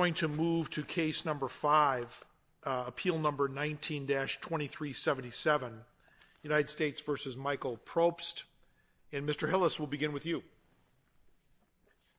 I'm going to move to case number five, appeal number 19-2377, United States v. Michael Propst. And Mr. Hillis, we'll begin with you.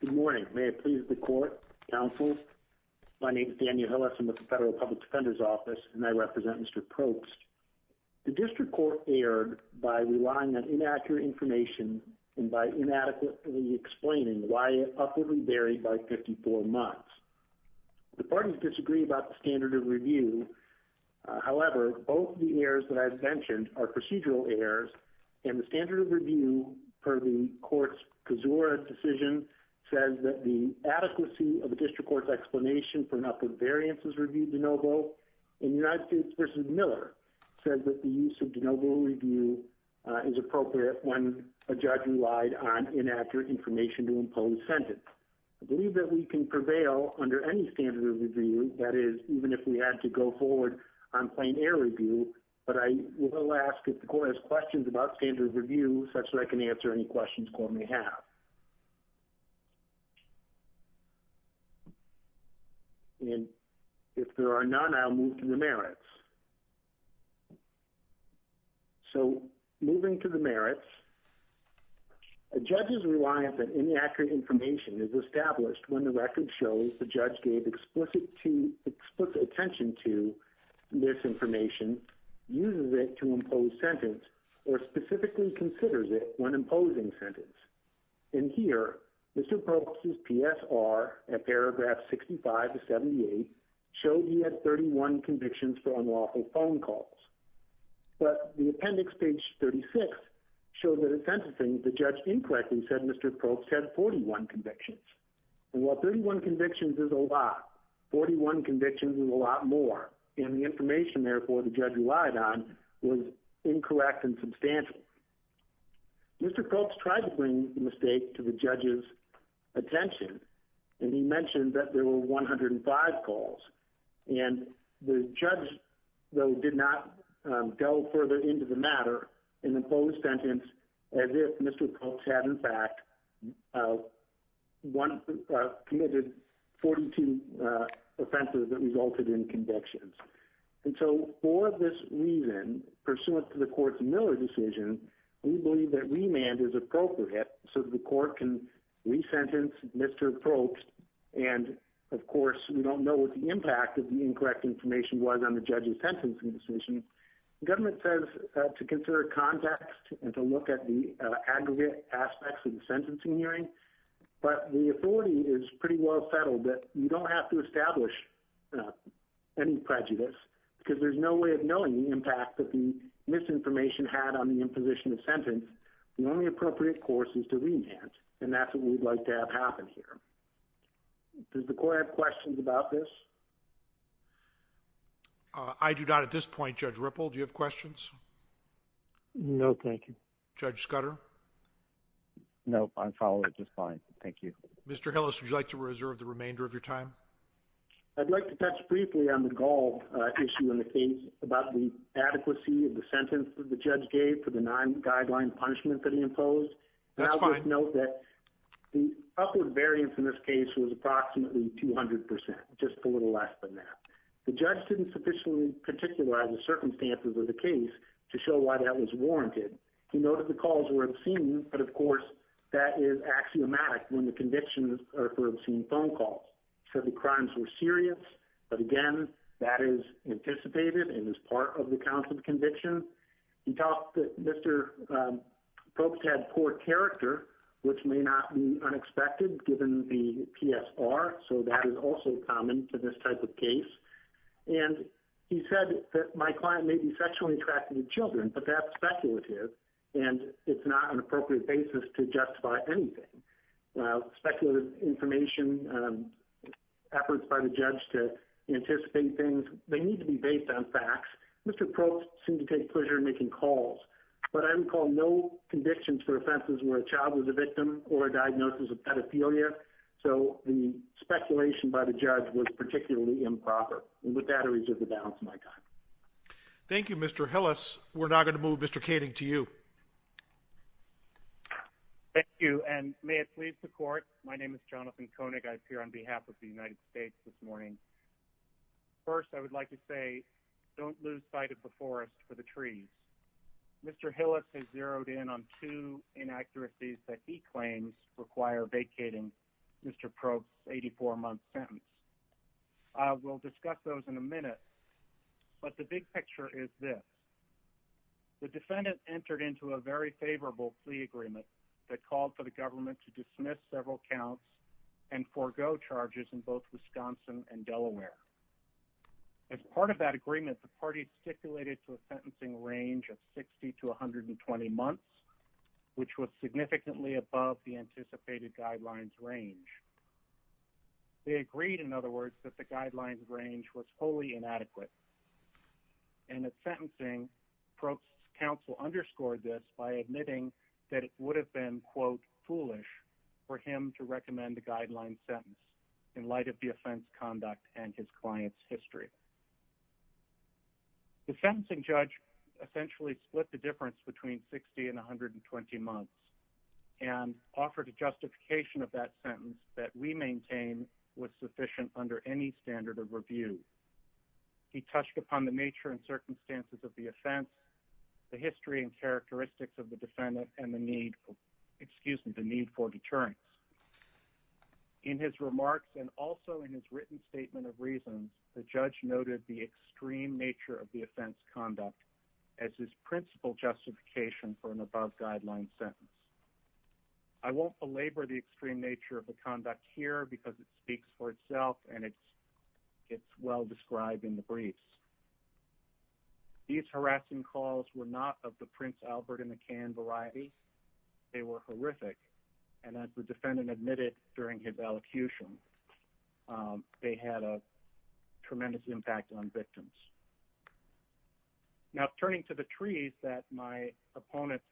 Good morning. May it please the court, counsel, my name is Daniel Hillis, I'm with the Federal Public Defender's Office, and I represent Mr. Propst. The district court erred by relying on inaccurate information and by inadequately explaining why it upwardly varied by 54 months. The parties disagree about the standard of review, however, both the errors that I've mentioned are procedural errors, and the standard of review for the court's Cazora decision says that the adequacy of the district court's explanation for an upward variance is reviewed de novo, and United States v. Miller says that the use of de novo review is appropriate when a judge relied on inaccurate information to impose sentence. I believe that we can prevail under any standard of review, that is, even if we had to go forward on plain error review, but I will ask if the court has questions about standard of review such that I can answer any questions the court may have. And if there are none, I'll move to the merits. So, moving to the merits, a judge's reliance on inaccurate information is established when the record shows the judge gave explicit attention to this information, uses it to impose sentence, or specifically considers it when imposing sentence. In here, Mr. Probst's PSR at paragraph 65 to 78 showed he had 31 convictions for unlawful phone calls, but the appendix, page 36, showed that in sentencing, the judge incorrectly said Mr. Probst had 41 convictions, and while 31 convictions is a lot, 41 convictions is a lot more, and the information, therefore, the judge relied on was incorrect and substantial. Mr. Probst tried to bring the mistake to the judge's attention, and he mentioned that there were 105 calls, and the judge, though, did not go further into the matter and impose sentence as if Mr. Probst had, in fact, committed 42 offenses that resulted in convictions. And so, for this reason, pursuant to the court's Miller decision, we believe that remand is appropriate so that the court can re-sentence Mr. Probst, and, of course, we don't know what the impact of the incorrect information was on the judge's sentencing decision. The government says to consider context and to look at the aggregate aspects of the sentencing hearing, but the authority is pretty well settled that you don't have to establish any prejudice because there's no way of knowing the impact that the misinformation had on the imposition of sentence. The only appropriate course is to remand, and that's what we'd like to have happen here. Does the court have questions about this? I do not at this point, Judge Ripple. Do you have questions? No, thank you. Judge Scudder? No, I'm following it just fine. Thank you. Mr. Hillis, would you like to reserve the remainder of your time? I'd like to touch briefly on the gall issue in the case about the adequacy of the sentence that the judge gave for the nine guideline punishment that he imposed. That's fine. Note that the upward variance in this case was approximately 200 percent, just a little less than that. The judge didn't sufficiently particularize the circumstances of the case to show why that was warranted. He noted the calls were obscene, but of course, that is axiomatic when the convictions are for obscene phone calls. He said the crimes were serious, but again, that is anticipated and is part of the counts of conviction. He talked that Mr. Probst had poor character, which may not be unexpected given the PSR, so that is also common to this type of case. And he said that my client may be sexually attracted to children, but that's speculative, and it's not an appropriate basis to justify anything. Speculative information, efforts by the judge to anticipate things, they need to be based on facts. Mr. Probst seemed to take pleasure in making calls, but I recall no convictions for offenses where a child was a victim or a diagnosis of pedophilia, so the speculation by the judge was particularly improper, and with that, I reserve the balance of my time. Thank you, Mr. Hillis. We're now going to move Mr. Koenig to you. Thank you, and may it please the court, my name is Jonathan Koenig. I appear on behalf of the United States this morning. First, I would like to say don't lose sight of the forest for the trees. Mr. Hillis has zeroed in on two inaccuracies that he claims require vacating Mr. Probst's 84-month sentence. We'll discuss those in a minute, but the big picture is this. The defendant entered into a very favorable plea agreement that called for the government to dismiss several counts and forego charges in both Wisconsin and Delaware. As part of that agreement, the party stipulated to a sentencing range of 60 to 120 months, which was significantly above the anticipated guidelines range. They agreed, in other words, that the guidelines range was wholly inadequate, and at sentencing, Probst's counsel underscored this by admitting that it would have been, quote, foolish for him to recommend the guidelines sentence in light of the offense conduct and his client's history. The sentencing judge essentially split the difference between 60 and 120 months and offered a justification of that sentence that we maintain was sufficient under any standard of review. He touched upon the nature and circumstances of the offense, the history and characteristics of the defendant, and the need for deterrence. In his remarks and also in his written statement of reasons, the judge noted the extreme nature of the offense conduct as his principal justification for an above-guideline sentence. I won't belabor the extreme nature of the conduct here because it speaks for itself and it's well described in the briefs. These harassing calls were not of the Prince Albert and McCann variety. They were horrific, and as the defendant admitted during his elocution, they had a tremendous impact on victims. Now, turning to the trees that my opponent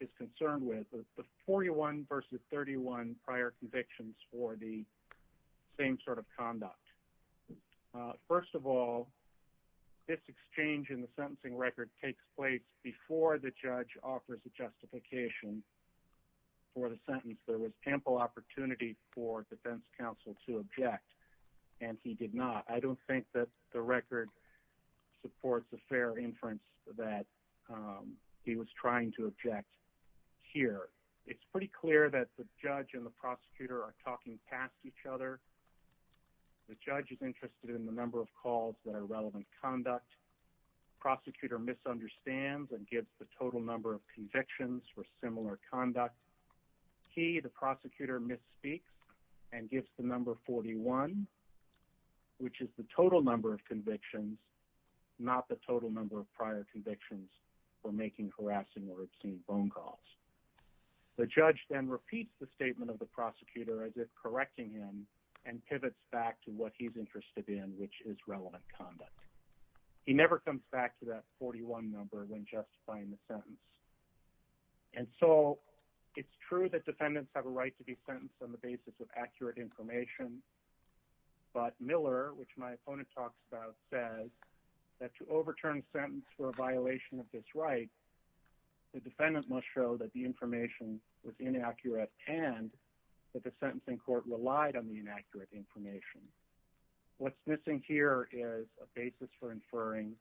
is concerned with, the 41 versus 31 prior convictions for the same sort of conduct. First of all, this exchange in the sentencing record takes place before the judge offers a justification for the sentence. There was ample opportunity for defense counsel to object, and he did not. I don't think that the record supports the fair inference that he was trying to object here. It's pretty clear that the judge and the prosecutor are talking past each other. The judge is interested in the number of calls that are relevant conduct. The prosecutor misunderstands and gives the total number of convictions for similar conduct. He, the prosecutor, misspeaks and gives the number 41, which is the total number of convictions, not the total number of prior convictions for making harassing or obscene phone calls. The judge then repeats the statement of the prosecutor as if correcting him and pivots back to what he's interested in, which is relevant conduct. He never comes back to that 41 number when justifying the sentence. And so it's true that defendants have a right to be sentenced on the basis of accurate information. But Miller, which my opponent talks about, says that to overturn a sentence for a violation of this right, the defendant must show that the information was inaccurate and that the sentencing court relied on the inaccurate information. What's missing here is a basis for inferring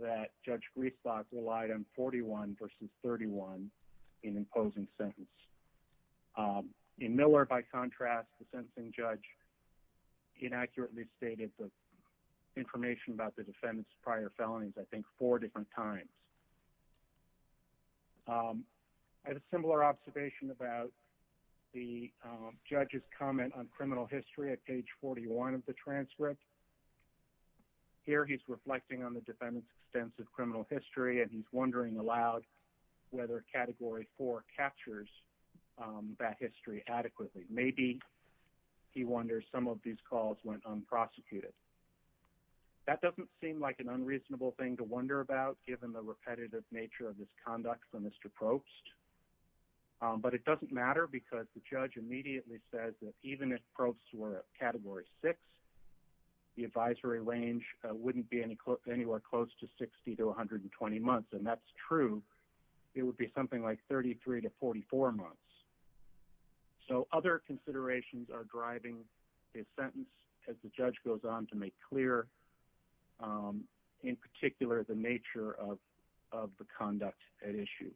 that Judge Griesbach relied on 41 versus 31 in imposing sentence. In Miller, by contrast, the sentencing judge inaccurately stated the information about the defendant's prior felonies, I think, four different times. I had a similar observation about the judge's comment on criminal history at page 41 of the transcript. Here, he's reflecting on the defendant's extensive criminal history, and he's wondering aloud whether Category 4 captures that history adequately. Maybe he wonders some of these calls went unprosecuted. That doesn't seem like an unreasonable thing to wonder about, given the repetitive nature of this conduct from Mr. Probst. But it doesn't matter, because the judge immediately says that even if Probst were at Category 6, the advisory range wouldn't be anywhere close to 60 to 120 months. And that's true. It would be something like 33 to 44 months. So, other considerations are driving this sentence, as the judge goes on to make clear, in particular, the nature of the conduct at issue.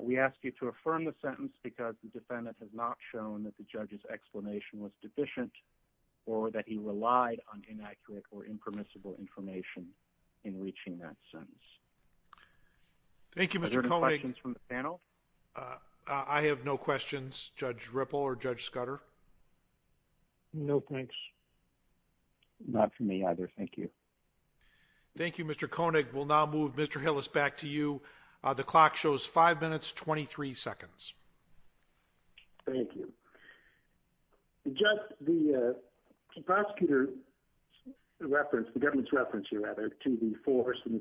We ask you to affirm the sentence because the defendant has not shown that the judge's explanation was deficient or that he relied on inaccurate or impermissible information in reaching that sentence. Thank you, Mr. Koenig. Are there any questions from the panel? I have no questions. Judge Ripple or Judge Scudder? No, thanks. Not from me either. Thank you. Thank you, Mr. Koenig. We'll now move Mr. Hillis back to you. The clock shows 5 minutes, 23 seconds. Thank you. Just the prosecutor's reference, the government's reference here, rather, to the forest and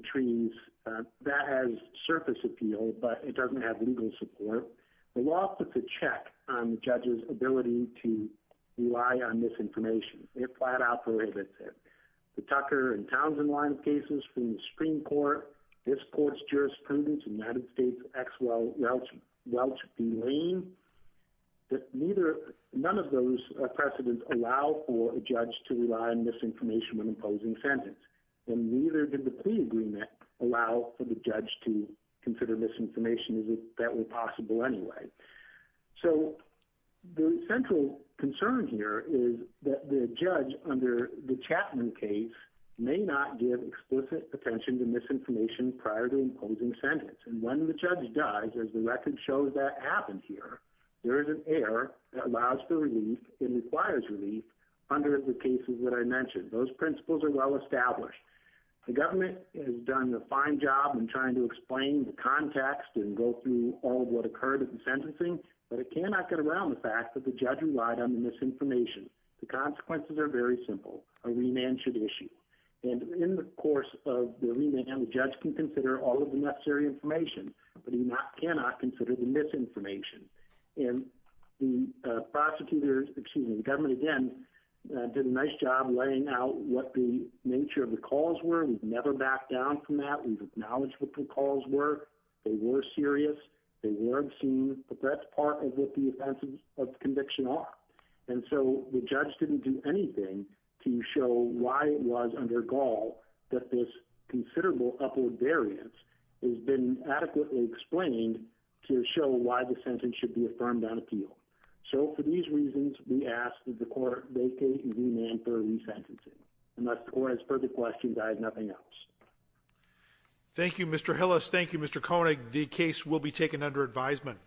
support. The law puts a check on the judge's ability to rely on misinformation. It flat out prohibits it. The Tucker and Townsend line of cases from the Supreme Court, this court's jurisprudence, United States, Exwell, Welch v. Lane, none of those precedents allow for a judge to rely on misinformation when imposing a sentence. And neither did the plea agreement allow for the judge to consider misinformation as if that were possible anyway. So the central concern here is that the judge under the Chapman case may not give explicit attention to misinformation prior to imposing a sentence. And when the judge does, as the record shows that happened here, there is an error that allows for relief and requires relief under the cases that I mentioned. Those principles are well established. The government has done a fine job in trying to explain the context and go through all of what occurred at the sentencing, but it cannot get around the fact that the judge relied on the misinformation. The consequences are very simple. A remand should issue. And in the course of the remand, the judge can consider all of the necessary information, but he cannot consider the misinformation. And the prosecutors, excuse me, the government, again, did a nice job laying out what the nature of the calls were. We've never backed down from that. We've acknowledged what the calls were. They were serious. They were obscene. But that's part of what the offenses of conviction are. And so the judge didn't do anything to show why it was under Gaul that this considerable upward variance has been adequately explained to show why the sentence should be affirmed on appeal. So for these reasons, we ask that the court vacate the remand for resentencing. Unless the court has further questions, I have nothing else. Thank you, Mr. Hillis. Thank you, Mr. Koenig. The case will be taken under advisement.